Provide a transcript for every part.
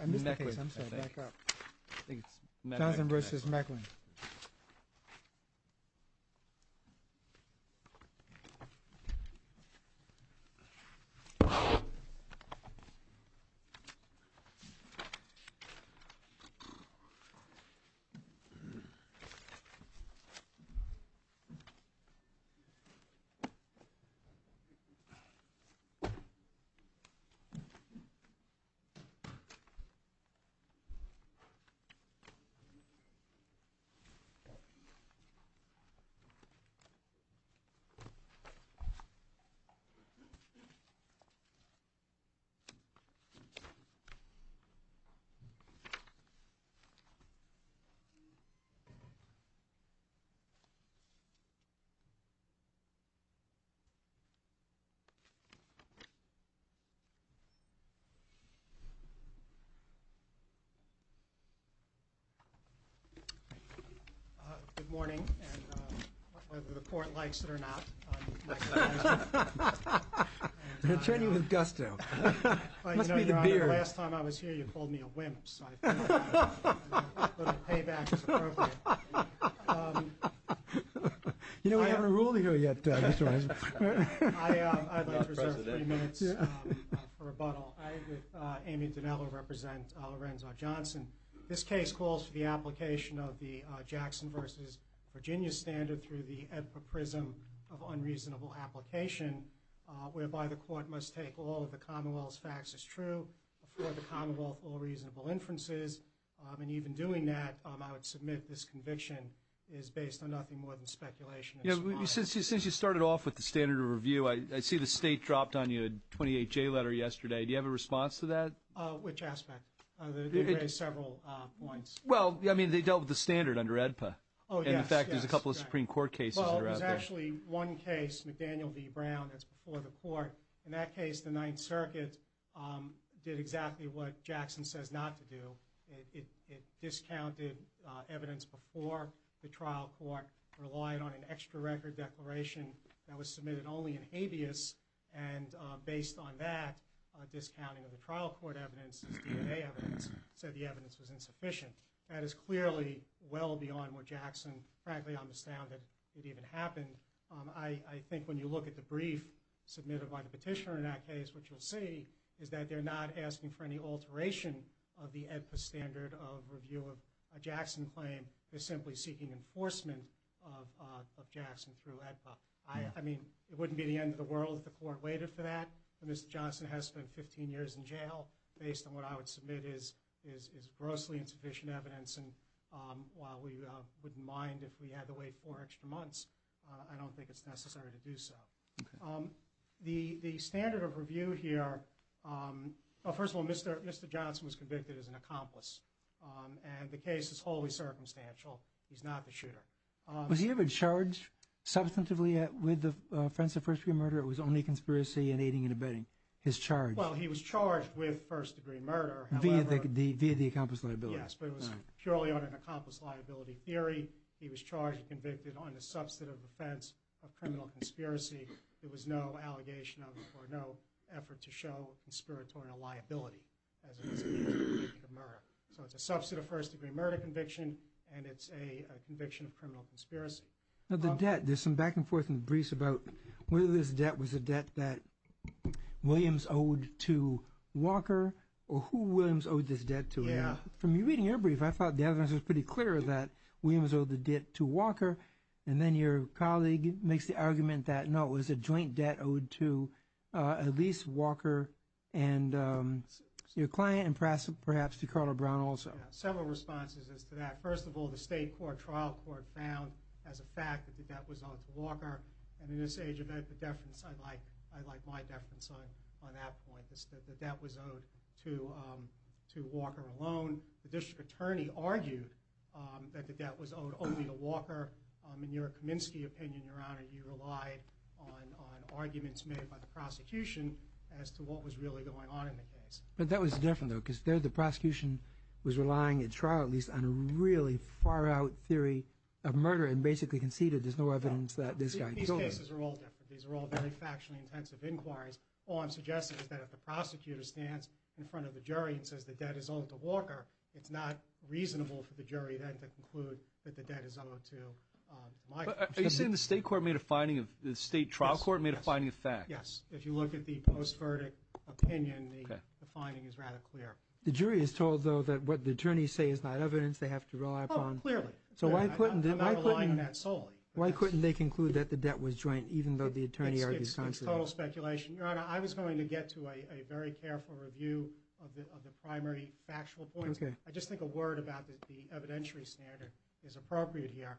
I'm sorry. Back up. I think it's Mechling vs. Mechling. It's Mechling. Good morning. And whether the court likes it or not, I'm Mechling. They're treating you with gusto. Last time I was here, you called me a wimp, so I figured I'd put a payback as appropriate. You know, we haven't ruled here yet, Mr. Weinberg. I'd like to reserve three minutes for rebuttal. I, with Amy Dinello, represent Lorenzo Johnson. This case calls for the application of the Jackson vs. Virginia standard through the epiprism of unreasonable application, whereby the court must take all of the Commonwealth's facts as true, afford the Commonwealth all reasonable inferences, and even doing that, I would submit this conviction is based on nothing more than speculation. You know, since you started off with the standard of review, I see the state dropped on you a 28-J letter yesterday. Do you have a response to that? Which aspect? They raised several points. Well, I mean, they dealt with the standard under AEDPA. Oh, yes. And, in fact, there's a couple of Supreme Court cases under AEDPA. Well, there's actually one case, McDaniel v. Brown, that's before the court. In that case, the Ninth Circuit did exactly what Jackson says not to do. It discounted evidence before the trial court, relied on an extra record declaration that was submitted only in habeas, and based on that, discounting of the trial court evidence, DNA evidence, said the evidence was insufficient. That is clearly well beyond what Jackson, frankly, I'm astounded it even happened. I think when you look at the brief submitted by the petitioner in that case, what you'll see is that they're not asking for any alteration of the AEDPA standard of review of a Jackson claim. They're simply seeking enforcement of Jackson through AEDPA. I mean, it wouldn't be the end of the world if the court waited for that. Mr. Johnson has spent 15 years in jail. Based on what I would submit is grossly insufficient evidence, and while we wouldn't mind if we had to wait four extra months, I don't think it's necessary to do so. The standard of review here, first of all, Mr. Johnson was convicted as an accomplice, and the case is wholly circumstantial. He's not the shooter. Was he ever charged substantively with the offense of first-degree murder? It was only conspiracy and aiding and abetting. His charge? Well, he was charged with first-degree murder. Via the accomplice liability? Yes, but it was purely on an accomplice liability theory. He was charged and convicted on the substantive offense of criminal conspiracy. There was no allegation of or no effort to show conspiratorial liability as it is in the case of murder. So it's a substantive first-degree murder conviction, and it's a conviction of criminal conspiracy. Now the debt, there's some back and forth in the briefs about whether this debt was a debt that Williams owed to Walker or who Williams owed this debt to. Yeah. From reading your brief, I thought the evidence was pretty clear that Williams owed the debt to Walker, and then your colleague makes the argument that, no, it was a joint debt owed to Elise Walker and your client, and perhaps to Carla Brown also. Yeah, several responses as to that. First of all, the state trial court found as a fact that the debt was owed to Walker, and in this age of the deference, I like my deference on that point, that the debt was owed to Walker alone. The district attorney argued that the debt was owed only to Walker. In your Kaminsky opinion, Your Honor, you relied on arguments made by the prosecution as to what was really going on in the case. But that was different, though, because there the prosecution was relying, at trial at least, on a really far-out theory of murder and basically conceded there's no evidence that this guy killed him. These cases are all different. These are all very factually intensive inquiries. All I'm suggesting is that if the prosecutor stands in front of the jury and says the debt is owed to Walker, it's not reasonable for the jury then to conclude that the debt is owed to my client. Are you saying the state trial court made a finding of fact? Yes. If you look at the post-verdict opinion, the finding is rather clear. The jury is told, though, that what the attorneys say is not evidence they have to rely upon. Oh, clearly. I'm not relying on that solely. Why couldn't they conclude that the debt was joint even though the attorney argues contrary? It's total speculation. Your Honor, I was going to get to a very careful review of the primary factual points. Okay. I just think a word about the evidentiary standard is appropriate here.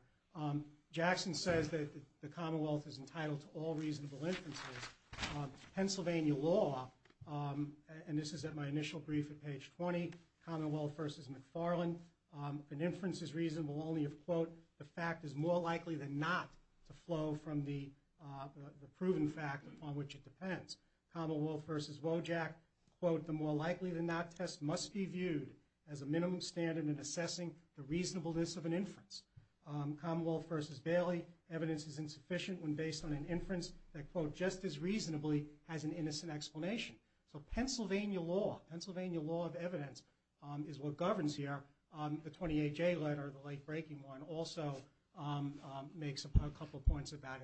Jackson says that the Commonwealth is entitled to all reasonable inferences. Pennsylvania law, and this is at my initial brief at page 20, Commonwealth v. McFarland, an inference is reasonable only if, quote, the fact is more likely than not to flow from the proven fact upon which it depends. Commonwealth v. Wojak, quote, the more likely than not test must be viewed as a minimum standard in assessing the reasonableness of an inference. Commonwealth v. Bailey, evidence is insufficient when based on an inference that, quote, just as reasonably has an innocent explanation. So Pennsylvania law, Pennsylvania law of evidence is what governs here. The 28J letter, the late breaking one, also makes a couple of points about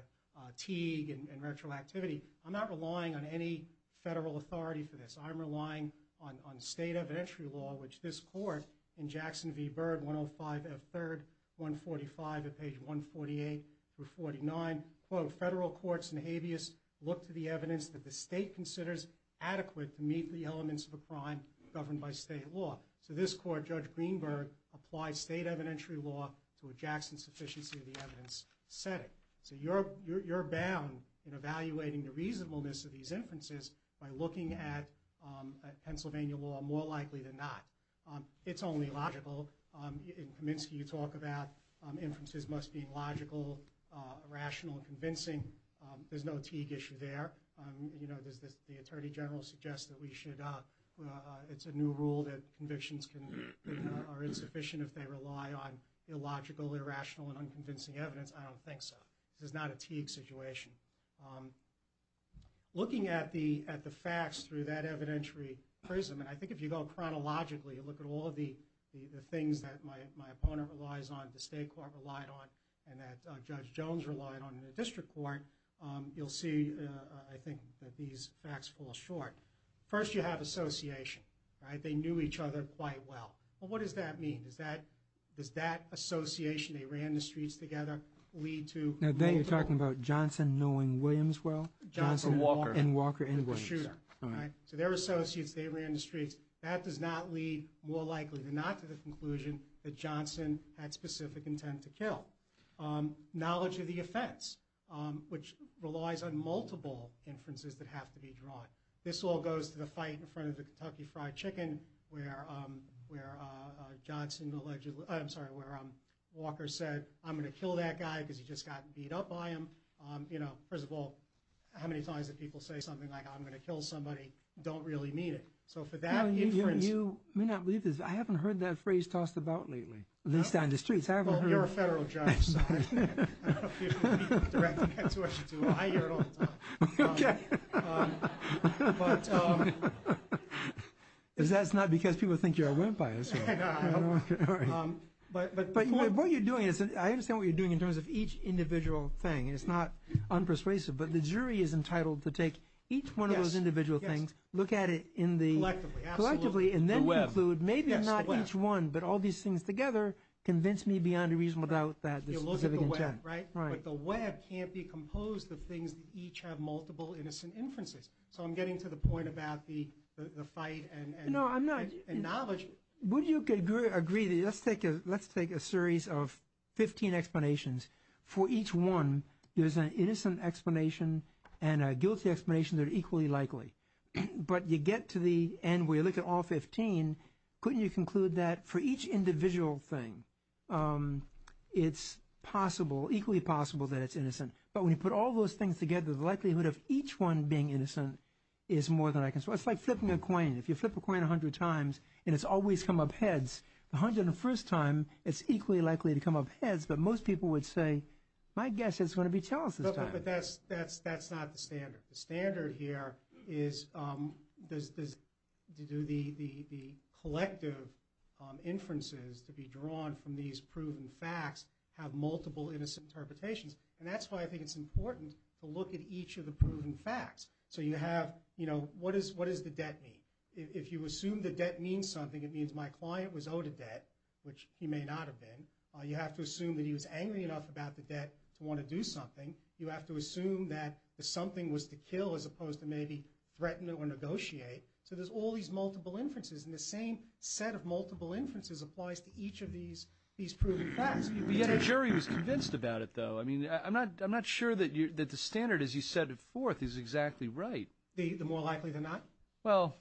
Teague and retroactivity. I'm not relying on any federal authority for this. I'm relying on state evidentiary law, which this court in Jackson v. Byrd, 105 F. 3rd, 145 at page 148 through 49, quote, federal courts and habeas look to the evidence that the state considers adequate to meet the elements of a crime governed by state law. So this court, Judge Greenberg, applied state evidentiary law to a Jackson sufficiency of the evidence setting. So you're bound in evaluating the reasonableness of these inferences by looking at Pennsylvania law more likely than not. It's only logical. In Kaminsky, you talk about inferences must be logical, rational, convincing. There's no Teague issue there. The attorney general suggests that it's a new rule that convictions are insufficient if they rely on illogical, irrational, and unconvincing evidence. I don't think so. This is not a Teague situation. Looking at the facts through that evidentiary prism, and I think if you go chronologically, you look at all the things that my opponent relies on, the state court relied on, and that Judge Jones relied on in the district court, you'll see, I think, that these facts fall short. First, you have association, right? They knew each other quite well. Well, what does that mean? Does that association, they ran the streets together, lead to? Now, then you're talking about Johnson knowing Williams well? Johnson and Walker. And Walker and Williams. The shooter, right? So they're associates. They ran the streets. That does not lead, more likely than not, to the conclusion that Johnson had specific intent to kill. Knowledge of the offense, which relies on multiple inferences that have to be drawn. This all goes to the fight in front of the Kentucky Fried Chicken where Walker said, I'm going to kill that guy because he just got beat up by him. First of all, how many times did people say something like, I'm going to kill somebody, don't really mean it. You may not believe this, I haven't heard that phrase tossed about lately, at least down the streets. Well, you're a federal judge. I don't know if you should be directing that to us. I hear it all the time. Okay. That's not because people think you're a wimp, I assume. No. But what you're doing, I understand what you're doing in terms of each individual thing, and it's not unpersuasive, but the jury is entitled to take each one of those individual things, look at it collectively, and then conclude, maybe not each one, but all these things together convince me beyond a reasonable doubt that there's a significant chance. But the web can't be composed of things that each have multiple innocent inferences. So I'm getting to the point about the fight and knowledge. Would you agree, let's take a series of 15 explanations. For each one, there's an innocent explanation and a guilty explanation that are equally likely. But you get to the end where you look at all 15, and couldn't you conclude that for each individual thing, it's equally possible that it's innocent. But when you put all those things together, the likelihood of each one being innocent is more than I can say. It's like flipping a coin. If you flip a coin 100 times and it's always come up heads, the 101st time it's equally likely to come up heads, but most people would say, my guess is it's going to be Charles this time. But that's not the standard. The standard here is to do the collective inferences to be drawn from these proven facts have multiple innocent interpretations. And that's why I think it's important to look at each of the proven facts. So you have, you know, what does the debt mean? If you assume the debt means something, it means my client was owed a debt, which he may not have been. You have to assume that he was angry enough about the debt to want to do something. You have to assume that something was to kill as opposed to maybe threaten or negotiate. So there's all these multiple inferences, and the same set of multiple inferences applies to each of these proven facts. But yet a jury was convinced about it, though. I mean, I'm not sure that the standard, as you set it forth, is exactly right. The more likely than not? Well,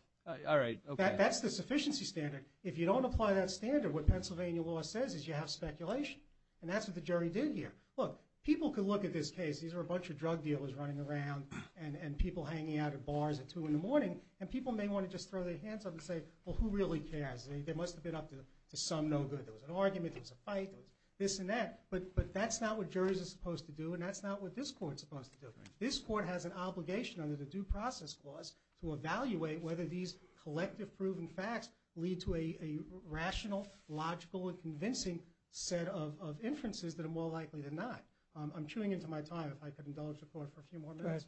all right. That's the sufficiency standard. If you don't apply that standard, what Pennsylvania law says is you have speculation. And that's what the jury did here. Look, people could look at this case. These are a bunch of drug dealers running around and people hanging out at bars at 2 in the morning, and people may want to just throw their hands up and say, well, who really cares? They must have been up to some no good. There was an argument. There was a fight. There was this and that. But that's not what juries are supposed to do, and that's not what this court's supposed to do. This court has an obligation under the Due Process Clause to evaluate whether these collective proven facts lead to a rational, logical, and convincing set of inferences that are more likely than not. I'm chewing into my time. If I could indulge the court for a few more minutes.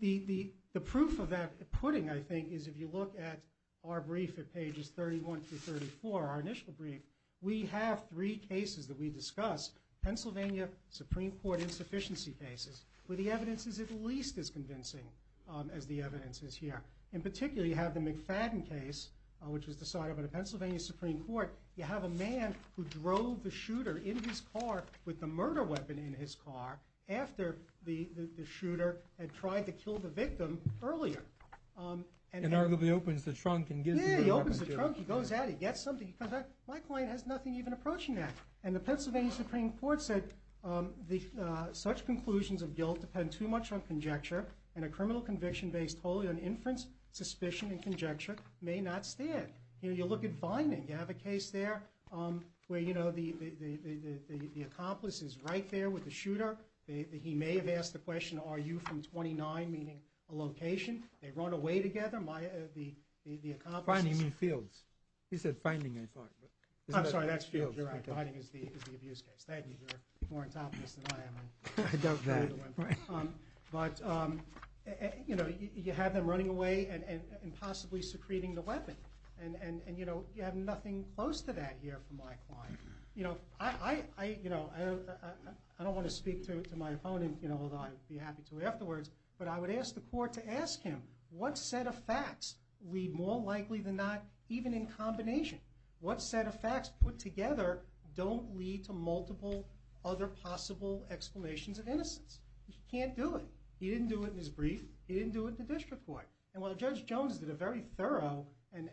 The proof of that pudding, I think, is if you look at our brief at pages 31 through 34, our initial brief, we have three cases that we discuss, Pennsylvania Supreme Court insufficiency cases, where the evidence is at least as convincing as the evidence is here. In particular, you have the McFadden case, which was decided by the Pennsylvania Supreme Court. You have a man who drove the shooter in his car with the murder weapon in his car after the shooter had tried to kill the victim earlier. And arguably opens the trunk and gives him the weapon. Yeah, he opens the trunk. He goes at it. He gets something. He comes back. My client has nothing even approaching that. And the Pennsylvania Supreme Court said, such conclusions of guilt depend too much on conjecture, and a criminal conviction based wholly on inference, suspicion, and conjecture may not stand. You look at Vining. You have a case there where, you know, the accomplice is right there with the shooter. He may have asked the question, are you from 29, meaning a location. They run away together. The accomplice is... Finding in fields. He said finding in fields. I'm sorry, that's fields. You're right. Vining is the abuse case. Thank you. You're more on top of this than I am. I doubt that. But, you know, you have them running away and possibly secreting the weapon. And, you know, you have nothing close to that here from my client. You know, I don't want to speak to my opponent, you know, although I'd be happy to afterwards, but I would ask the court to ask him, what set of facts lead more likely than not, even in combination? What set of facts put together don't lead to multiple other possible explanations of innocence? He can't do it. He didn't do it in his brief. He didn't do it in the district court. And while Judge Jones did a very thorough and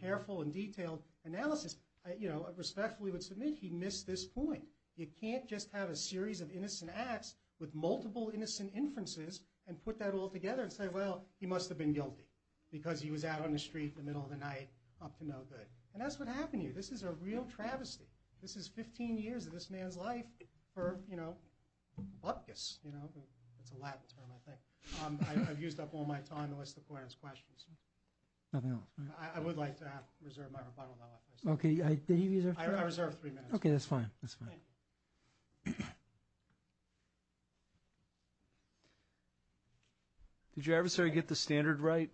careful and detailed analysis, you know, I respectfully would submit he missed this point. You can't just have a series of innocent acts with multiple innocent inferences and put that all together and say, well, he must have been guilty because he was out on the street in the middle of the night up to no good. And that's what happened here. This is a real travesty. This is 15 years of this man's life for, you know, bupkis, you know. It's a Latin term, I think. I've used up all my time to list the points and questions. Nothing else? I would like to reserve my rebuttal. Okay. I reserve three minutes. Okay. That's fine. That's fine. Did your adversary get the standard right?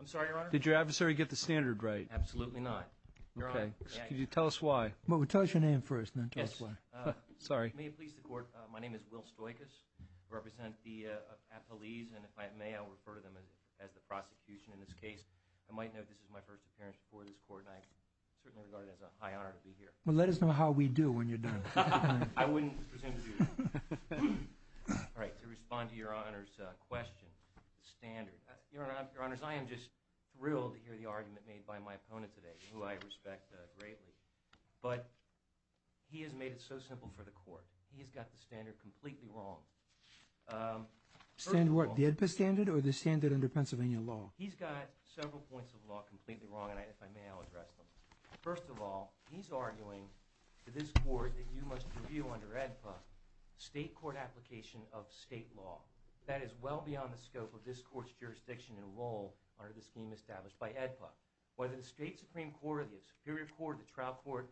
I'm sorry, Your Honor. Did your adversary get the standard right? Absolutely not. Your Honor. Could you tell us why? Tell us your name first. Yes. Sorry. May it please the Court. My name is Will Stoikos. I represent the appellees, and if I may, I'll refer to them as the prosecution in this case. I might note this is my first appearance before this Court, and I certainly regard it as a high honor to be here. Well, let us know how we do when you're done. I wouldn't presume to do that. All right. To respond to Your Honor's question, the standard. Your Honor, I am just thrilled to hear the argument made by my opponent today, who I respect greatly. But he has made it so simple for the Court. He's got the standard completely wrong. The EdPA standard or the standard under Pennsylvania law? He's got several points of law completely wrong, and if I may, I'll address them. First of all, he's arguing to this Court that you must review under EdPA state court application of state law. That is well beyond the scope of this Court's jurisdiction and role under the scheme established by EdPA. Whether the State Supreme Court or the Superior Court or the Trial Court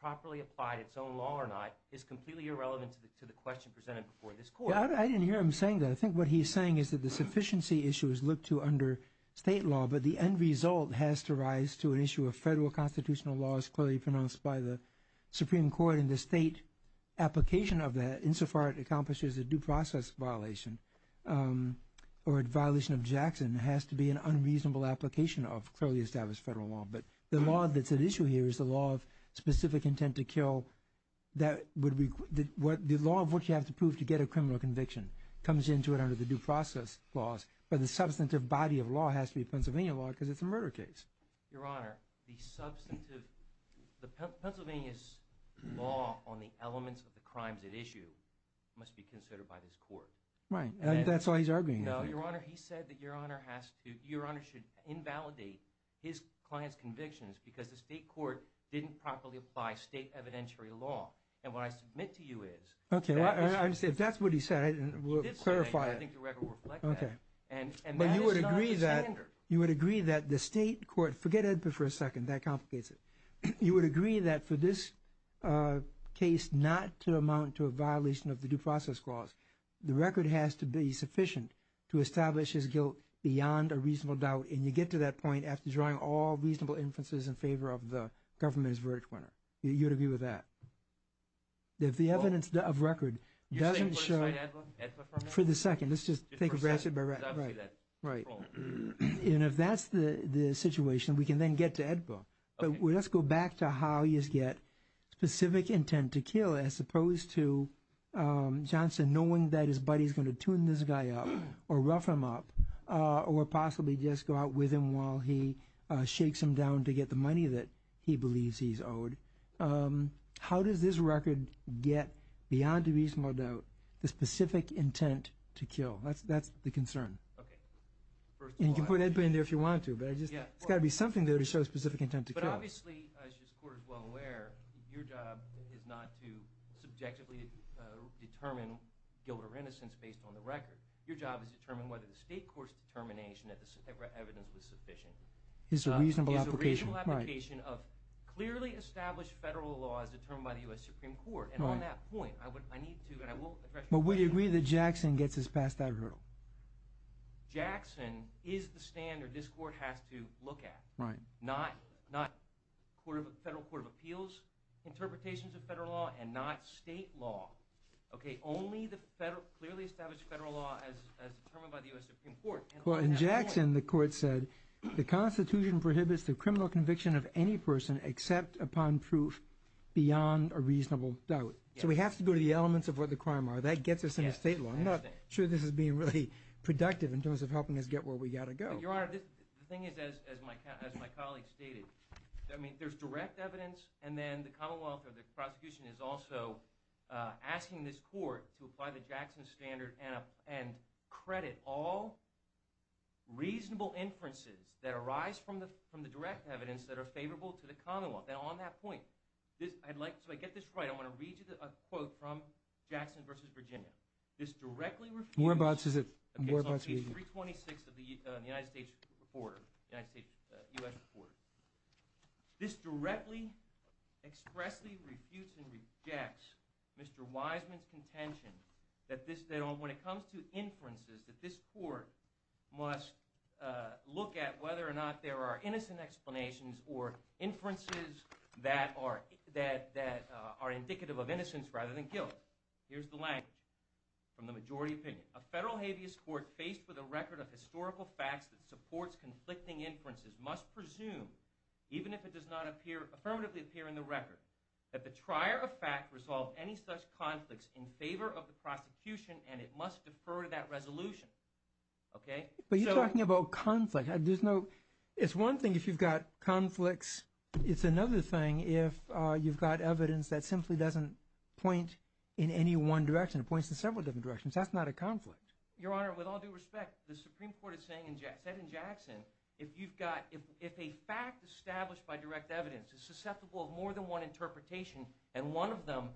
properly applied its own law or not is completely irrelevant to the question presented before this Court. I didn't hear him saying that. I think what he's saying is that the sufficiency issue is looked to under state law, but the end result has to rise to an issue of federal constitutional law as clearly pronounced by the Supreme Court, and the state application of that insofar it accomplishes a due process violation or a violation of Jackson has to be an unreasonable application of clearly established federal law. But the law that's at issue here is the law of specific intent to kill. The law of which you have to prove to get a criminal conviction comes into it under the due process laws, but the substantive body of law has to be Pennsylvania law because it's a murder case. Your Honor, the Pennsylvania's law on the elements of the crimes at issue must be considered by this Court. Right, and that's why he's arguing. No, Your Honor, he said that Your Honor should invalidate his client's convictions because the state court didn't properly apply state evidentiary law. And what I submit to you is... Okay, I understand. If that's what he said, we'll clarify it. I think the record will reflect that. Okay. And that is not the standard. But you would agree that the state court... Forget it for a second. That complicates it. You would agree that for this case not to amount to a violation of the due process clause, the record has to be sufficient to establish his guilt beyond a reasonable doubt, and you get to that point after drawing all reasonable inferences in favor of the government's verdict winner. You would agree with that? Well... If the evidence of record doesn't show... You're saying we'll decide EDPA for him? For the second. Let's just think about it. Right. And if that's the situation, we can then get to EDPA. But let's go back to how you get specific intent to kill, as opposed to Johnson knowing that his buddy is going to tune this guy up, or rough him up, or possibly just go out with him while he shakes him down to get the money that he believes he's owed. How does this record get, beyond a reasonable doubt, the specific intent to kill? That's the concern. Okay. First of all... And you can put EDPA in there if you want to, but it's got to be something there to show specific intent to kill. But obviously, as this Court is well aware, your job is not to subjectively determine guilt or innocence based on the record. Your job is to determine whether the state court's determination that the evidence was sufficient. It's a reasonable application. It's a reasonable application of clearly established federal law as determined by the U.S. Supreme Court. And on that point, I need to... But we agree that Jackson gets this past that hurdle. Jackson is the standard this Court has to look at. Right. Not federal court of appeals interpretations of federal law, and not state law. Okay. Only the clearly established federal law as determined by the U.S. Supreme Court. Well, in Jackson, the Court said the Constitution prohibits the criminal conviction of any person except upon proof beyond a reasonable doubt. So we have to go to the elements of what the crime are. That gets us into state law. I'm not sure this is being really productive in terms of helping us get where we've got to go. But, Your Honor, the thing is, as my colleague stated, there's direct evidence, and then the Commonwealth or the prosecution is also asking this Court to apply the Jackson standard and credit all reasonable inferences that arise from the direct evidence that are favorable to the Commonwealth. And on that point, I'd like to get this right. I want to read you a quote from Jackson v. Virginia. This directly refutes... More about... Okay, it's on page 326 of the United States Reporter, U.S. Reporter. This directly, expressly refutes and rejects Mr. Wiseman's contention that when it comes to inferences, that this Court must look at whether or not there are innocent explanations or inferences that are indicative of innocence rather than guilt. Here's the language from the majority opinion. A federal habeas court faced with a record of historical facts that supports conflicting inferences must presume, even if it does not affirmatively appear in the record, that the trier of fact resolve any such conflicts in favor of the prosecution, and it must defer to that resolution. But you're talking about conflict. It's one thing if you've got conflicts. It's another thing if you've got evidence that simply doesn't point in any one direction. It points in several different directions. That's not a conflict. Your Honor, with all due respect, the Supreme Court said in Jackson, if a fact established by direct evidence is susceptible of more than one interpretation, and one of them,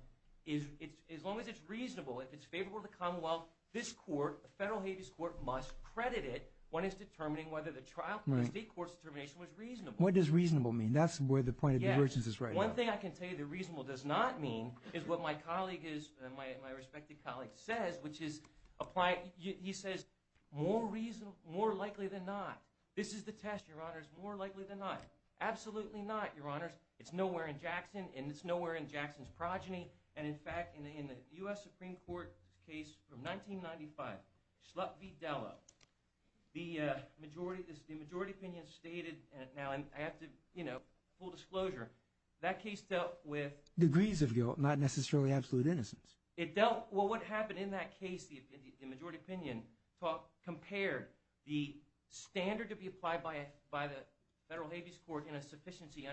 as long as it's reasonable, if it's favorable to the commonwealth, this court, the federal habeas court, must credit it when it's determining whether the state court's determination was reasonable. That's where the point of divergence is right now. One thing I can tell you that reasonable does not mean is what my colleague is, my respected colleague says, which is he says, more likely than not. This is the test, Your Honors, more likely than not. Absolutely not, Your Honors. It's nowhere in Jackson, and it's nowhere in Jackson's progeny. And in fact, in the U.S. Supreme Court case from 1995, Schlupf v. Dello, the majority opinion stated, and now I have to, you know, full disclosure, that case dealt with... Degrees of guilt, not necessarily absolute innocence. It dealt, well, what happened in that case, the majority opinion compared the standard to be applied by the federal habeas court in a sufficiency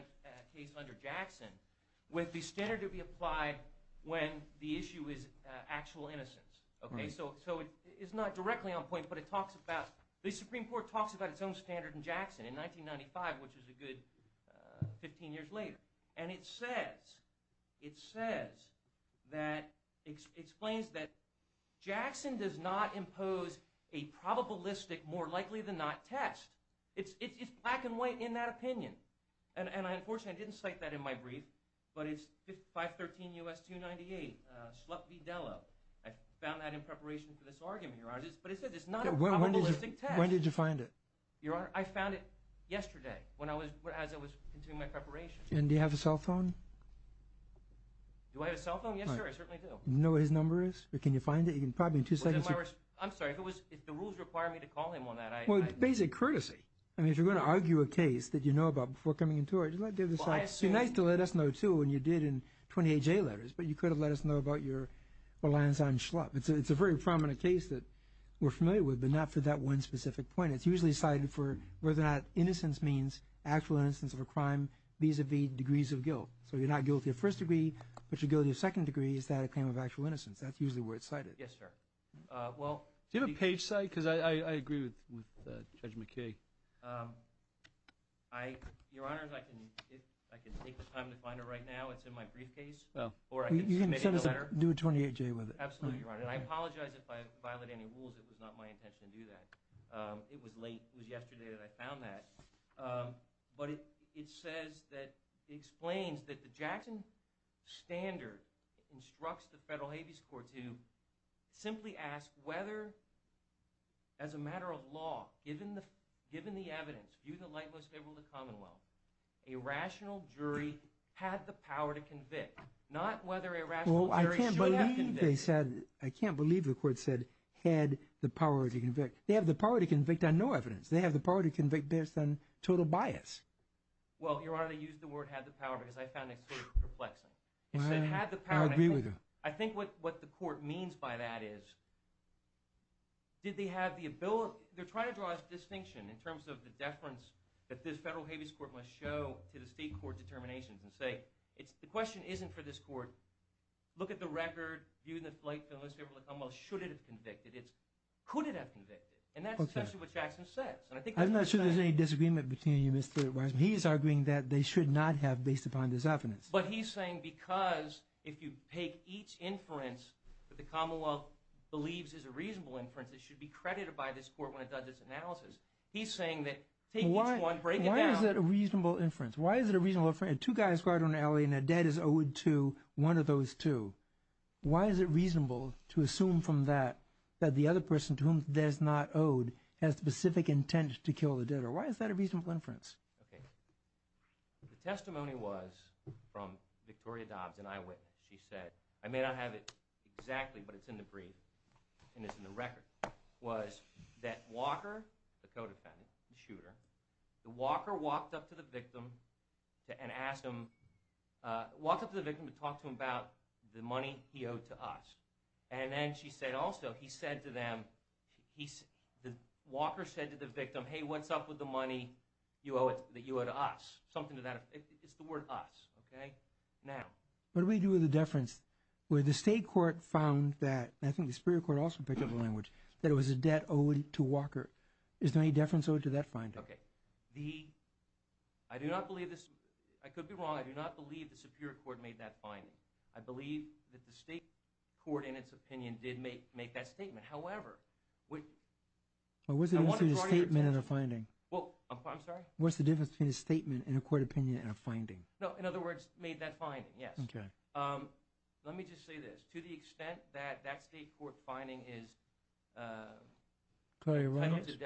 case under Jackson with the standard to be applied when the issue is actual innocence. So it's not directly on point, but it talks about, the Supreme Court talks about its own standard in Jackson in 1995, which is a good 15 years later, and it says, it says that, explains that Jackson does not impose a probabilistic more likely than not test. It's black and white in that opinion, and unfortunately I didn't cite that in my brief, but it's 513 U.S. 298, Schlupf v. Dello. I found that in preparation for this argument, Your Honors, but it says it's not a probabilistic test. When did you find it? Your Honor, I found it yesterday when I was, as I was continuing my preparation. And do you have a cell phone? Do I have a cell phone? Yes, sir, I certainly do. Do you know what his number is, or can you find it? Probably in two seconds. I'm sorry, if it was, if the rules require me to call him on that, I... Well, it's basic courtesy. I mean, if you're going to argue a case that you know about before coming into it, you might give us... Well, I assume... It'd be nice to let us know, too, when you did in 28J letters, but you could have let us know about your alliance on Schlupf. It's a very prominent case that we're familiar with, but not for that one specific point. And it's usually cited for whether or not innocence means actual innocence of a crime, vis-à-vis degrees of guilt. So you're not guilty of first degree, but you're guilty of second degree, is that a claim of actual innocence. That's usually where it's cited. Yes, sir. Well... Do you have a page site? Because I agree with Judge McKay. I, Your Honors, I can take the time to find it right now. It's in my briefcase. Oh. Or I can submit it in a letter. You can send us a, do a 28J with it. Absolutely, Your Honor. And I apologize if I violate any rules. It was not my intention to do that. It was late, it was yesterday that I found that. But it says that, it explains that the Jackson Standard instructs the federal habeas court to simply ask whether, as a matter of law, given the evidence, view the light most favorable to the commonwealth, a rational jury had the power to convict. Not whether a rational jury should have convicted. They said, I can't believe the court said, had the power to convict. They have the power to convict on no evidence. They have the power to convict based on total bias. Well, Your Honor, they used the word had the power because I found it sort of perplexing. I agree with you. I think what the court means by that is, did they have the ability, they're trying to draw a distinction in terms of the deference that this federal habeas court must show to the state court determinations and say, the question isn't for this court. Look at the record, view the light most favorable to the commonwealth. Should it have convicted? Could it have convicted? And that's essentially what Jackson says. I'm not sure there's any disagreement between you, Mr. Weisman. He's arguing that they should not have based upon this evidence. But he's saying because if you take each inference that the commonwealth believes is a reasonable inference, it should be credited by this court when it does its analysis. He's saying that take each one, break it down. Why is that a reasonable inference? Why is it a reasonable inference? Two guys ride on an alley and a dead is owed to one of those two. Why is it reasonable to assume from that that the other person to whom that's not owed has specific intent to kill the dead? Or why is that a reasonable inference? Okay. The testimony was from Victoria Dobbs and I witness. She said, I may not have it exactly, but it's in the brief and it's in the record, was that Walker, the co-defendant, the shooter, Walker walked up to the victim and asked him, walked up to the victim and talked to him about the money he owed to us. And then she said also, he said to them, Walker said to the victim, hey, what's up with the money that you owe to us? Something to that effect. It's the word us, okay? Now, what do we do with the deference? The state court found that, I think the superior court also picked up the language, that it was a debt owed to Walker. Is there any deference owed to that finding? Okay. I do not believe this. I could be wrong. I do not believe the superior court made that finding. I believe that the state court in its opinion did make that statement. However, I want to draw your attention. What's the difference between a statement and a court opinion and a finding? No, in other words, made that finding, yes. Let me just say this. To the extent that that state court finding is presumption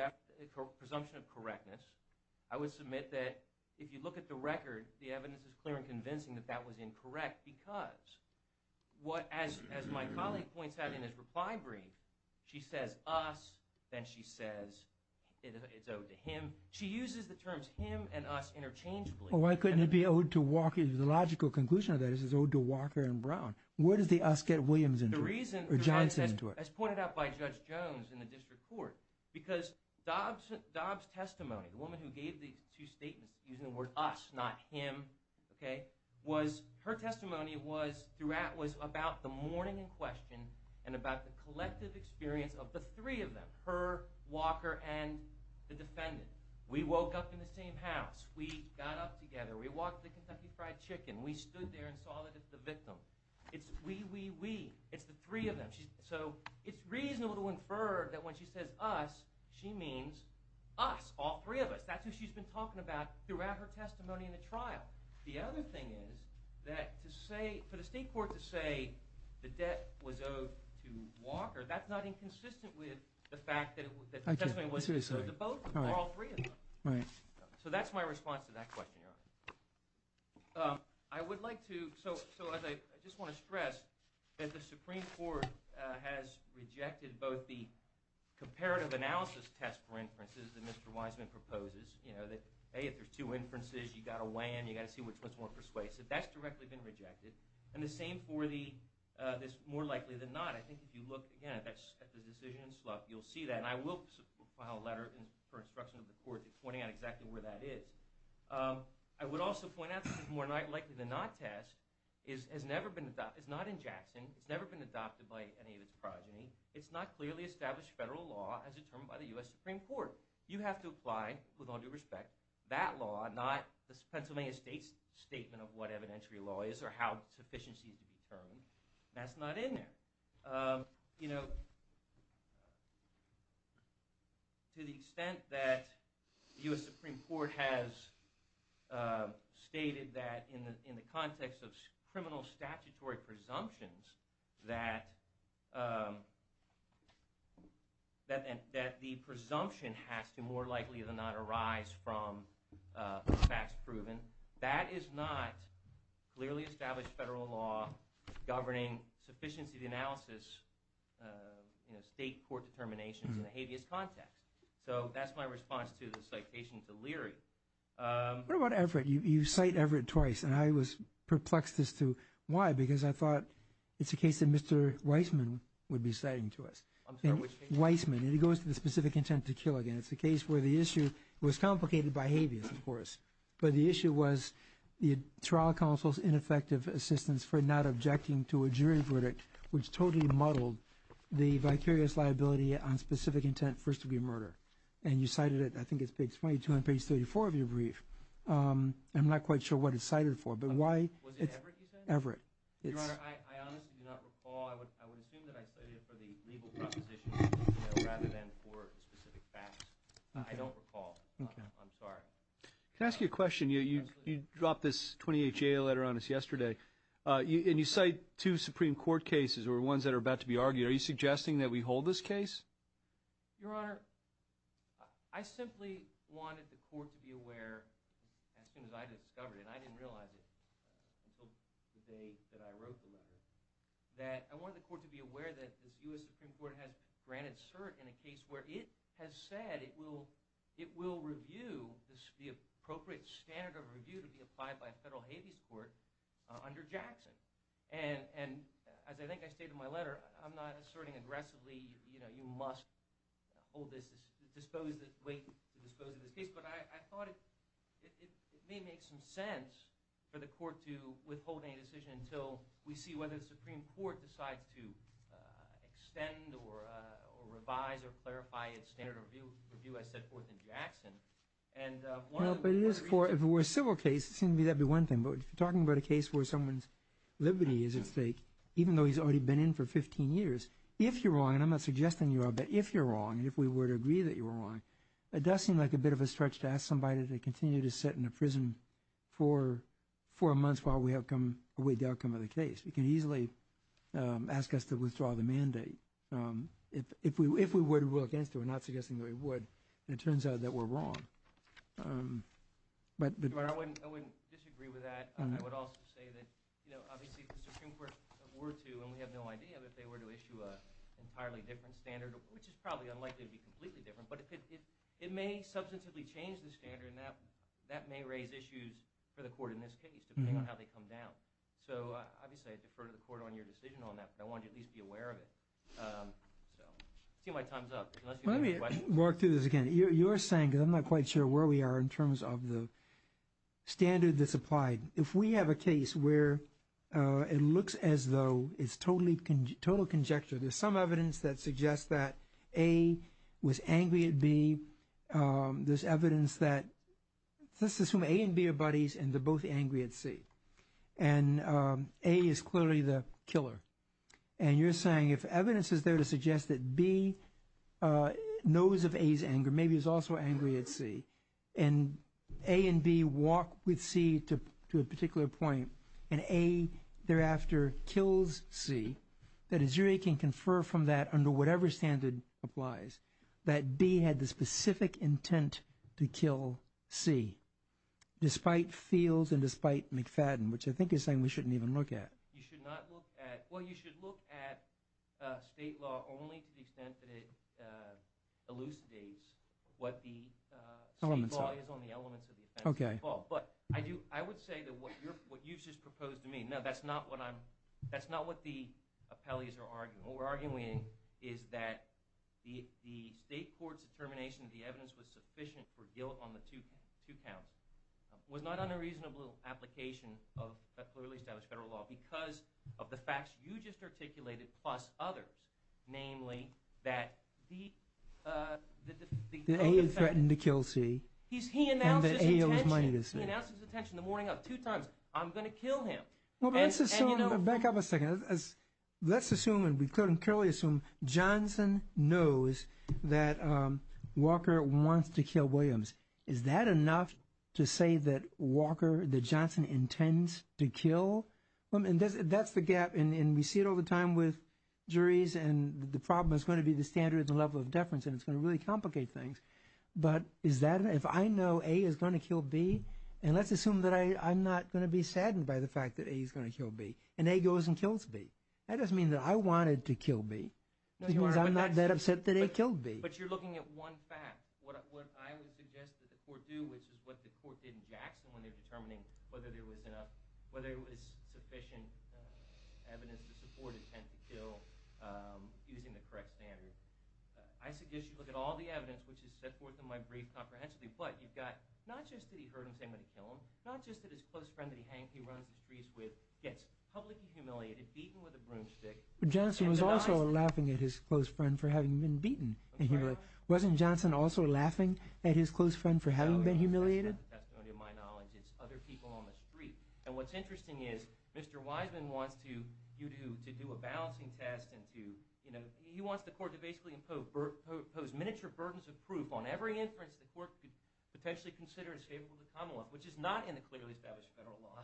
of correctness, I would submit that if you look at the record, the evidence is clear and convincing that that was incorrect because as my colleague points out in his reply brief, she says us, then she says it's owed to him. She uses the terms him and us interchangeably. Well, why couldn't it be owed to Walker? The logical conclusion of that is it's owed to Walker and Brown. Where does the us get Williams into it or Johnson into it? The reason, as pointed out by Judge Jones in the district court, because Dobbs' testimony, the woman who gave these two statements, using the word us, not him, okay, was her testimony was about the mourning in question and about the collective experience of the three of them, her, Walker, and the defendant. We woke up in the same house. We got up together. We walked to the Kentucky Fried Chicken. We stood there and saw that it's the victim. It's we, we, we. It's the three of them. So it's reasonable to infer that when she says us, she means us, all three of us. That's who she's been talking about throughout her testimony in the trial. The other thing is that for the state court to say the debt was owed to Walker, that's not inconsistent with the fact that the testimony was owed to both or all three of them. Right. So that's my response to that question, Your Honor. I would like to, so as I just want to stress, that the Supreme Court has rejected both the comparative analysis test for inferences that Mr. Wiseman proposes, you know, that, hey, if there's two inferences, you've got to weigh in, you've got to see which one's more persuasive. That's directly been rejected. And the same for this more likely than not. I think if you look, again, at the decision in Slough, you'll see that. And I will file a letter for instruction of the court pointing out exactly where that is. I would also point out that the more likely than not test has never been adopted. It's not in Jackson. It's never been adopted by any of its progeny. It's not clearly established federal law as determined by the U.S. Supreme Court. You have to apply, with all due respect, that law, not the Pennsylvania State's statement of what evidentiary law is or how sufficiency is determined. That's not in there. You know, to the extent that the U.S. Supreme Court has stated that, in the context of criminal statutory presumptions, that the presumption has to more likely than not arise from facts proven, that is not clearly established federal law governing sufficiency of analysis, you know, state court determinations in a habeas context. So that's my response to the citation to Leary. What about Everett? You cite Everett twice, and I was perplexed as to why, because I thought it's a case that Mr. Weissman would be citing to us. I'm sorry, which case? Weissman. It goes to the specific intent to kill again. It's a case where the issue was complicated by habeas, of course, but the issue was the trial counsel's ineffective assistance for not objecting to a jury verdict, which totally muddled the vicarious liability on specific intent for first-degree murder. And you cited it, I think it's page 22 on page 34 of your brief. I'm not quite sure what it's cited for. Was it Everett you said? Everett. Your Honor, I honestly do not recall. I would assume that I cited it for the legal proposition rather than for specific facts. I don't recall. Okay. I'm sorry. Can I ask you a question? You dropped this 28-JA letter on us yesterday, and you cite two Supreme Court cases or ones that are about to be argued. Are you suggesting that we hold this case? Your Honor, I simply wanted the court to be aware as soon as I discovered it, and I didn't realize it until the day that I wrote the letter, that I wanted the court to be aware that the U.S. Supreme Court has granted cert in a case where it has said it will review the appropriate standard of review to be applied by a federal habeas court under Jackson. And as I think I stated in my letter, I'm not asserting aggressively, you know, you must hold this, wait to dispose of this case. But I thought it may make some sense for the court to withhold any decision until we see whether the Supreme Court decides to extend or revise or clarify its standard of review as set forth in Jackson. If it were a civil case, that would be one thing. But if you're talking about a case where someone's liberty is at stake, even though he's already been in for 15 years, if you're wrong, and I'm not suggesting you are, but if you're wrong, if we were to agree that you were wrong, it does seem like a bit of a stretch to ask somebody to continue to sit in a prison for four months while we await the outcome of the case. You can easily ask us to withdraw the mandate. If we were to rule against it, we're not suggesting that we would, and it turns out that we're wrong. I wouldn't disagree with that. I would also say that, you know, obviously if the Supreme Court were to, and we have no idea if they were to issue an entirely different standard, which is probably unlikely to be completely different, but it may substantively change the standard, and that may raise issues for the court in this case, depending on how they come down. So obviously I defer to the court on your decision on that, but I wanted you to at least be aware of it. I see my time's up. Let me walk through this again. You were saying, because I'm not quite sure where we are in terms of the standard that's applied. If we have a case where it looks as though it's total conjecture, there's some evidence that suggests that A was angry at B. There's evidence that, let's assume A and B are buddies and they're both angry at C, and A is clearly the killer. And you're saying if evidence is there to suggest that B knows of A's anger, maybe he's also angry at C, and A and B walk with C to a particular point, and A thereafter kills C, that a jury can confer from that under whatever standard applies that B had the specific intent to kill C, despite Fields and despite McFadden, which I think you're saying we shouldn't even look at. You should not look at – well, you should look at state law only to the extent that it elucidates what the state law is on the elements of the offense. But I would say that what you've just proposed to me – no, that's not what the appellees are arguing. What we're arguing is that the state court's determination that the evidence was sufficient for guilt on the two counts was not on a reasonable application of a clearly established federal law because of the facts you just articulated plus others, namely that the – B would threaten to kill C and that A owes money to C. He announces his intention the morning of two times. I'm going to kill him. Well, let's assume – back up a second. Let's assume and we clearly assume Johnson knows that Walker wants to kill Williams. Is that enough to say that Walker – that Johnson intends to kill – and that's the gap, and we see it all the time with juries, and the problem is going to be the standards and level of deference, and it's going to really complicate things. But is that – if I know A is going to kill B, and let's assume that I'm not going to be saddened by the fact that A is going to kill B, and A goes and kills B, that doesn't mean that I wanted to kill B. It means I'm not that upset that A killed B. But you're looking at one fact, what I would suggest that the court do, which is what the court did in Jackson when they were determining whether there was enough – whether it was sufficient evidence to support the intent to kill using the correct standard. I suggest you look at all the evidence, which is set forth in my brief comprehensively, but you've got not just that he heard him say he was going to kill him, not just that his close friend that he runs the streets with gets publicly humiliated, beaten with a broomstick. Johnson was also laughing at his close friend for having been beaten and humiliated. Wasn't Johnson also laughing at his close friend for having been humiliated? That's going to be my knowledge. It's other people on the street. And what's interesting is Mr. Wiseman wants you to do a balancing test. He wants the court to basically impose miniature burdens of proof on every inference the court could potentially consider as capable to come along, which is not in the clearly established federal law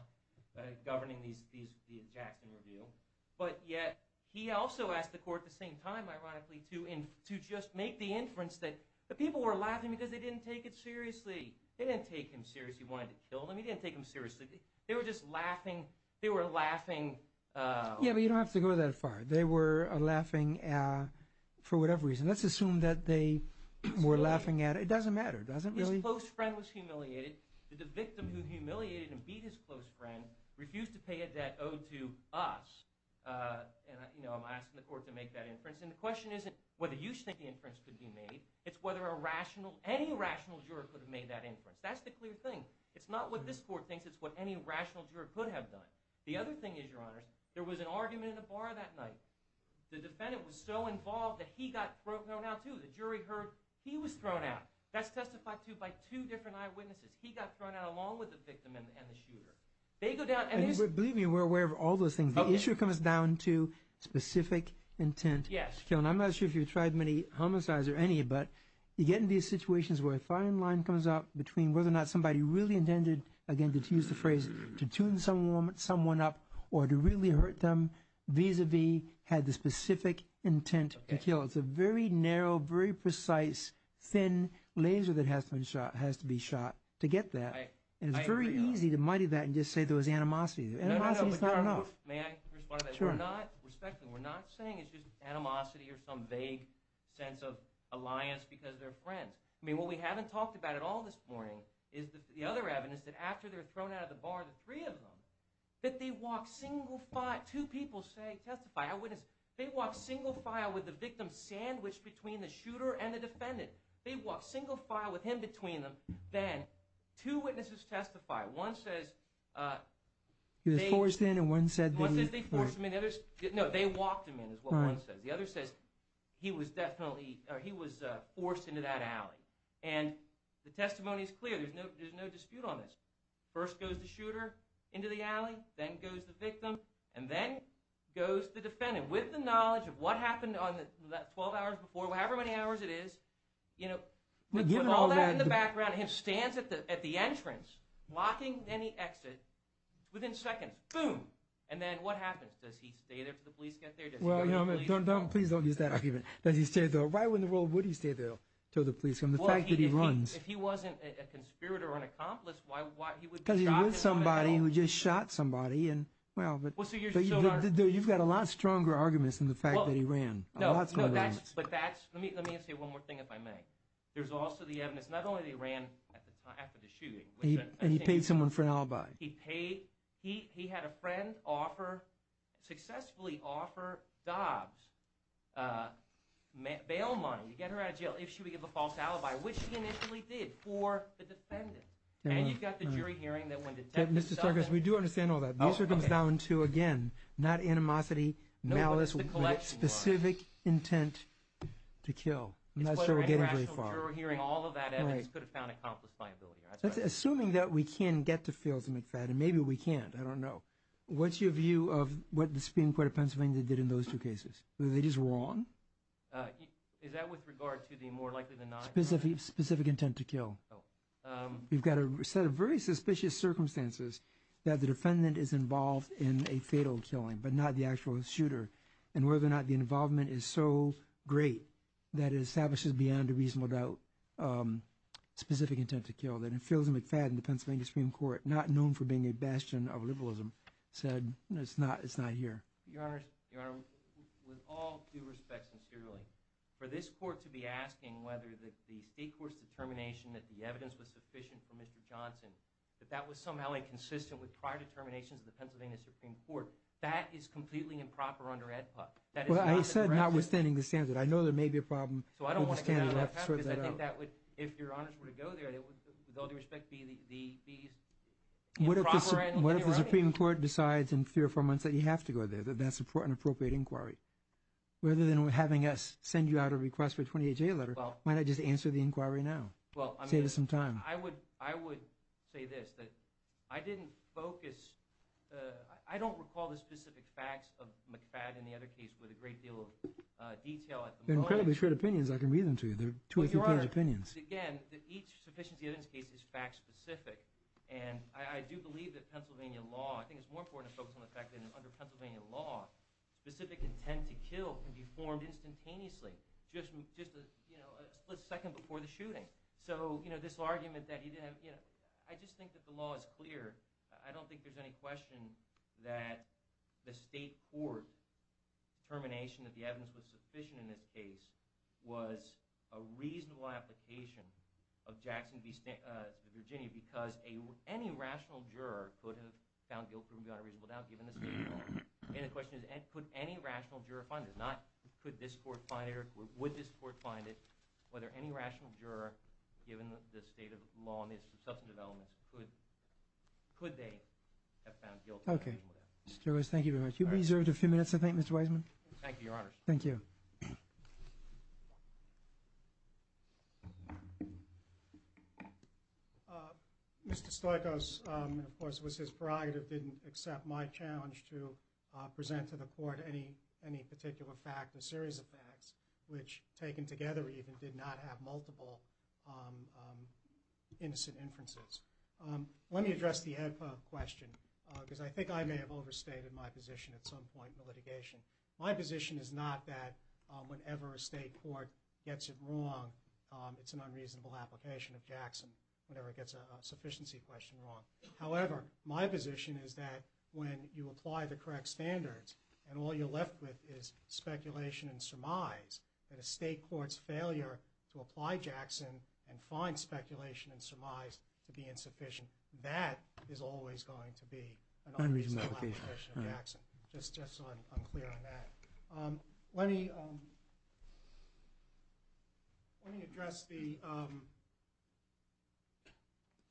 governing the Jackson review. But yet he also asked the court at the same time, ironically, to just make the inference that the people were laughing because they didn't take it seriously. They didn't take him seriously. He wanted to kill them. He didn't take them seriously. They were just laughing. They were laughing. Yeah, but you don't have to go that far. They were laughing for whatever reason. Let's assume that they were laughing at it. It doesn't matter. His close friend was humiliated. Did the victim who humiliated and beat his close friend refuse to pay a debt owed to us? And I'm asking the court to make that inference. And the question isn't whether you think the inference could be made. It's whether a rational, any rational juror could have made that inference. That's the clear thing. It's not what this court thinks. It's what any rational juror could have done. The other thing is, Your Honors, there was an argument in the bar that night. The defendant was so involved that he got thrown out too. The jury heard he was thrown out. That's testified to by two different eyewitnesses. He got thrown out along with the victim and the shooter. They go down and there's— Believe me, we're aware of all those things. The issue comes down to specific intent. Yes. I'm not sure if you've tried many homicides or any, but you get into these situations where a fine line comes up between whether or not somebody really intended, again, to use the phrase, to tune someone up or to really hurt them vis-a-vis had the specific intent to kill. It's a very narrow, very precise, thin laser that has to be shot to get that. And it's very easy to muddy that and just say there was animosity. Animosity is not enough. May I respond to that? Sure. Respectfully, we're not saying it's just animosity or some vague sense of alliance because they're friends. I mean, what we haven't talked about at all this morning is the other evidence, that after they're thrown out of the bar, the three of them, that they walk single file. Two people testify. They walk single file with the victim sandwiched between the shooter and the defendant. They walk single file with him between them. Then two witnesses testify. One says— He was forced in and one said— One says they forced him in. No, they walked him in is what one says. The other says he was definitely—he was forced into that alley. And the testimony is clear. There's no dispute on this. First goes the shooter into the alley. Then goes the victim. And then goes the defendant with the knowledge of what happened 12 hours before, however many hours it is. You know, with all that in the background, he stands at the entrance, blocking any exit. Within seconds, boom. And then what happens? Does he stay there till the police get there? Well, please don't use that argument. Does he stay there? Why in the world would he stay there till the police come? The fact that he runs— If he wasn't a conspirator or an accomplice, why would he— Because he was somebody who just shot somebody. Well, but you've got a lot stronger arguments than the fact that he ran. No, but that's—let me say one more thing if I may. There's also the evidence not only that he ran after the shooting— And he paid someone for an alibi. He paid—he had a friend offer—successfully offer Dobbs bail money to get her out of jail if she would give a false alibi, which she initially did for the defendant. And you've got the jury hearing that when detectives— Mr. Sargas, we do understand all that. This comes down to, again, not animosity, malice, but specific intent to kill. I'm not sure we're getting very far. It's whether a rational jury hearing, all of that evidence could have found accomplice viability. Assuming that we can get to Fields and McFadden, maybe we can't. I don't know. What's your view of what the Supreme Court of Pennsylvania did in those two cases? Were they just wrong? Is that with regard to the more likely than not— Specific intent to kill. Oh. You've got a set of very suspicious circumstances that the defendant is involved in a fatal killing, but not the actual shooter, and whether or not the involvement is so great that it establishes beyond a reasonable doubt specific intent to kill, that in Fields and McFadden, the Pennsylvania Supreme Court, not known for being a bastion of liberalism, said it's not here. Your Honor, with all due respect, sincerely, for this court to be asking whether the state court's determination that the evidence was sufficient for Mr. Johnson, that that was somehow inconsistent with prior determinations of the Pennsylvania Supreme Court, that is completely improper under AEDPA. Well, I said notwithstanding the standard. I know there may be a problem with the standard. If Your Honors were to go there, it would, with all due respect, be improper. What if the Supreme Court decides in three or four months that you have to go there, that that's an inappropriate inquiry? Rather than having us send you out a request for a 28-day letter, why not just answer the inquiry now? Save us some time. I would say this, that I didn't focus— I don't recall the specific facts of McFadden and the other case with a great deal of detail at the moment. They're incredibly short opinions. I can read them to you. They're two or three page opinions. Your Honor, again, each sufficiency evidence case is fact-specific. And I do believe that Pennsylvania law—I think it's more important to focus on the fact that under Pennsylvania law, specific intent to kill can be formed instantaneously, just a split second before the shooting. So this argument that he didn't have—I just think that the law is clear. I don't think there's any question that the state court determination that the evidence was sufficient in this case was a reasonable application of Jackson v. Virginia, because any rational juror could have found guilt proven beyond a reasonable doubt, given the state law. And the question is, could any rational juror find it? Not could this court find it or would this court find it, whether any rational juror, given the state of the law and the substantive elements, could they have found guilt— Okay. Mr. Stoikos, thank you very much. You'll be reserved a few minutes, I think, Mr. Weisman. Thank you, Your Honor. Thank you. Mr. Stoikos, of course, it was his prerogative, didn't accept my challenge to present to the court any particular fact, a series of facts, which, taken together even, did not have multiple innocent inferences. Let me address the question, because I think I may have overstated my position at some point in the litigation. My position is not that whenever a state court gets it wrong, it's an unreasonable application of Jackson, whenever it gets a sufficiency question wrong. However, my position is that when you apply the correct standards and all you're left with is speculation and surmise, that a state court's failure to apply Jackson and find speculation and surmise to be insufficient, that is always going to be an unreasonable application of Jackson. Just so I'm clear on that. Let me address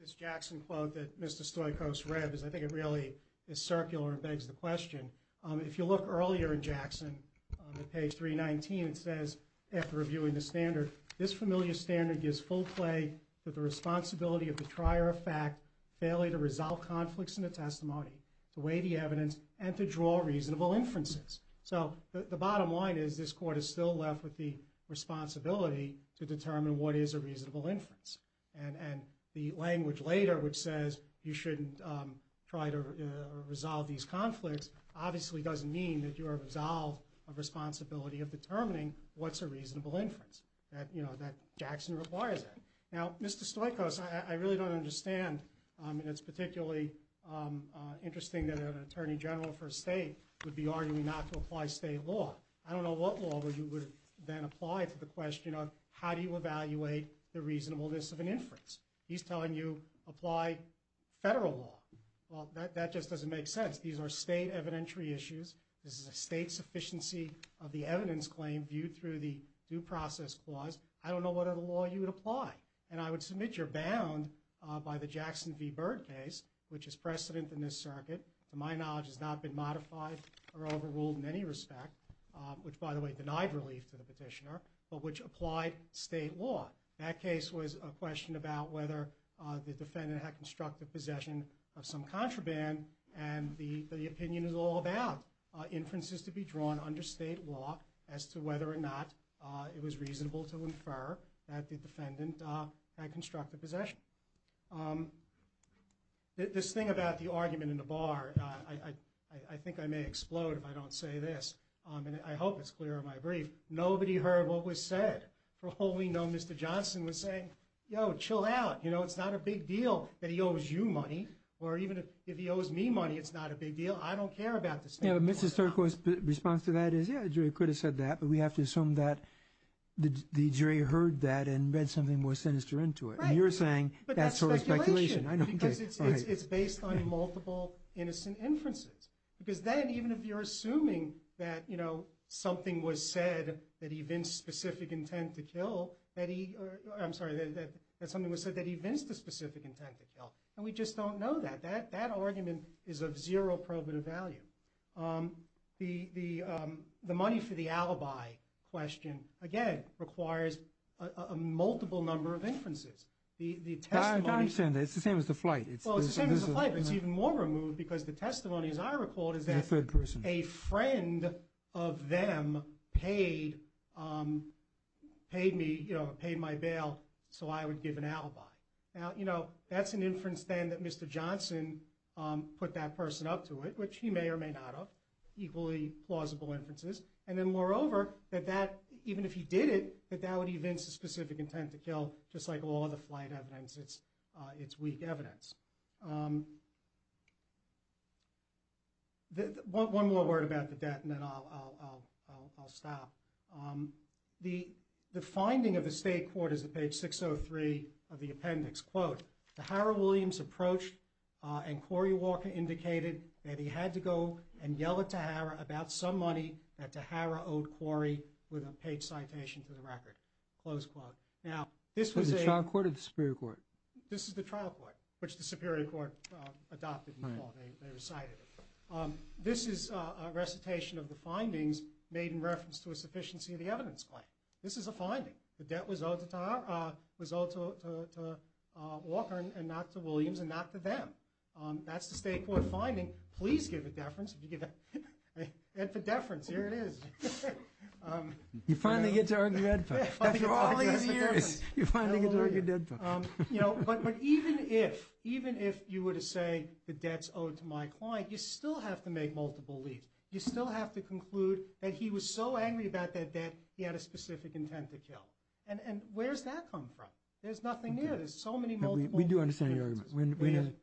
this Jackson quote that Mr. Stoikos read, because I think it really is circular and begs the question. If you look earlier in Jackson, on page 319, it says, after reviewing the standard, this familiar standard gives full play to the responsibility of the trier of fact, failure to resolve conflicts in the testimony, to weigh the evidence, and to draw reasonable inferences. The bottom line is this court is still left with the responsibility to determine what is a reasonable inference. The language later, which says you shouldn't try to resolve these conflicts, obviously doesn't mean that you are resolved of responsibility of determining what's a reasonable inference, that Jackson requires that. Now, Mr. Stoikos, I really don't understand. It's particularly interesting that an attorney general for a state would be arguing not to apply state law. I don't know what law you would then apply to the question of how do you evaluate the reasonableness of an inference. He's telling you apply federal law. Well, that just doesn't make sense. These are state evidentiary issues. This is a state sufficiency of the evidence claim viewed through the due process clause. I don't know what other law you would apply. And I would submit you're bound by the Jackson v. Byrd case, which is precedent in this circuit, to my knowledge has not been modified or overruled in any respect, which, by the way, denied relief to the petitioner, but which applied state law. That case was a question about whether the defendant had constructive possession of some contraband, and the opinion is all about inferences to be drawn under state law as to whether or not it was reasonable to infer that the defendant had constructive possession. This thing about the argument in the bar, I think I may explode if I don't say this. And I hope it's clear in my brief. Nobody heard what was said. For all we know, Mr. Johnson was saying, yo, chill out. You know, it's not a big deal that he owes you money. Or even if he owes me money, it's not a big deal. I don't care about this thing. Yeah, but Mrs. Turco's response to that is, yeah, the jury could have said that, but we have to assume that the jury heard that and read something more sinister into it. And you're saying that's sort of speculation. But that's speculation. Because it's based on multiple innocent inferences. Because then, even if you're assuming that, you know, something was said that he vinced specific intent to kill, that he, I'm sorry, that something was said that he vinced the specific intent to kill, and we just don't know that, that argument is of zero probative value. The money for the alibi question, again, requires a multiple number of inferences. I understand that. It's the same as the flight. It's the same as the flight, but it's even more removed because the testimony, as I recall, is that a friend of them paid me, you know, paid my bail so I would give an alibi. Now, you know, that's an inference then that Mr. Johnson put that person up to it, which he may or may not have, equally plausible inferences. And then, moreover, that that, even if he did it, that that would evince the specific intent to kill, just like all other flight evidence, it's weak evidence. One more word about the debt and then I'll stop. The finding of the state court is at page 603 of the appendix. Quote, Tahara Williams approached and Cory Walker indicated that he had to go and yell at Tahara about some money that Tahara owed Cory with a paid citation to the record. Close quote. Now, this was a- Was it the trial court or the superior court? This is the trial court, which the superior court adopted in the law. They recited it. This is a recitation of the findings made in reference to a sufficiency of the evidence claim. This is a finding. The debt was owed to Walker and not to Williams and not to them. That's the state court finding. Please give a deference. If you give a deference, here it is. You finally get to earn your deference. After all these years, you finally get to earn your deference. You know, but even if, even if you were to say the debt's owed to my client, you still have to make multiple leads. You still have to conclude that he was so angry about that debt he had a specific intent to kill. And where does that come from? There's nothing there. There's so many multiple- We do understand your argument.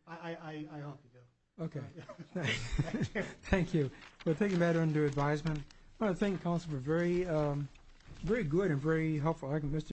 I hope you do. Okay. Thank you. Thank you. We'll take that under advisement. I want to thank the counsel for a very, very good and very helpful argument.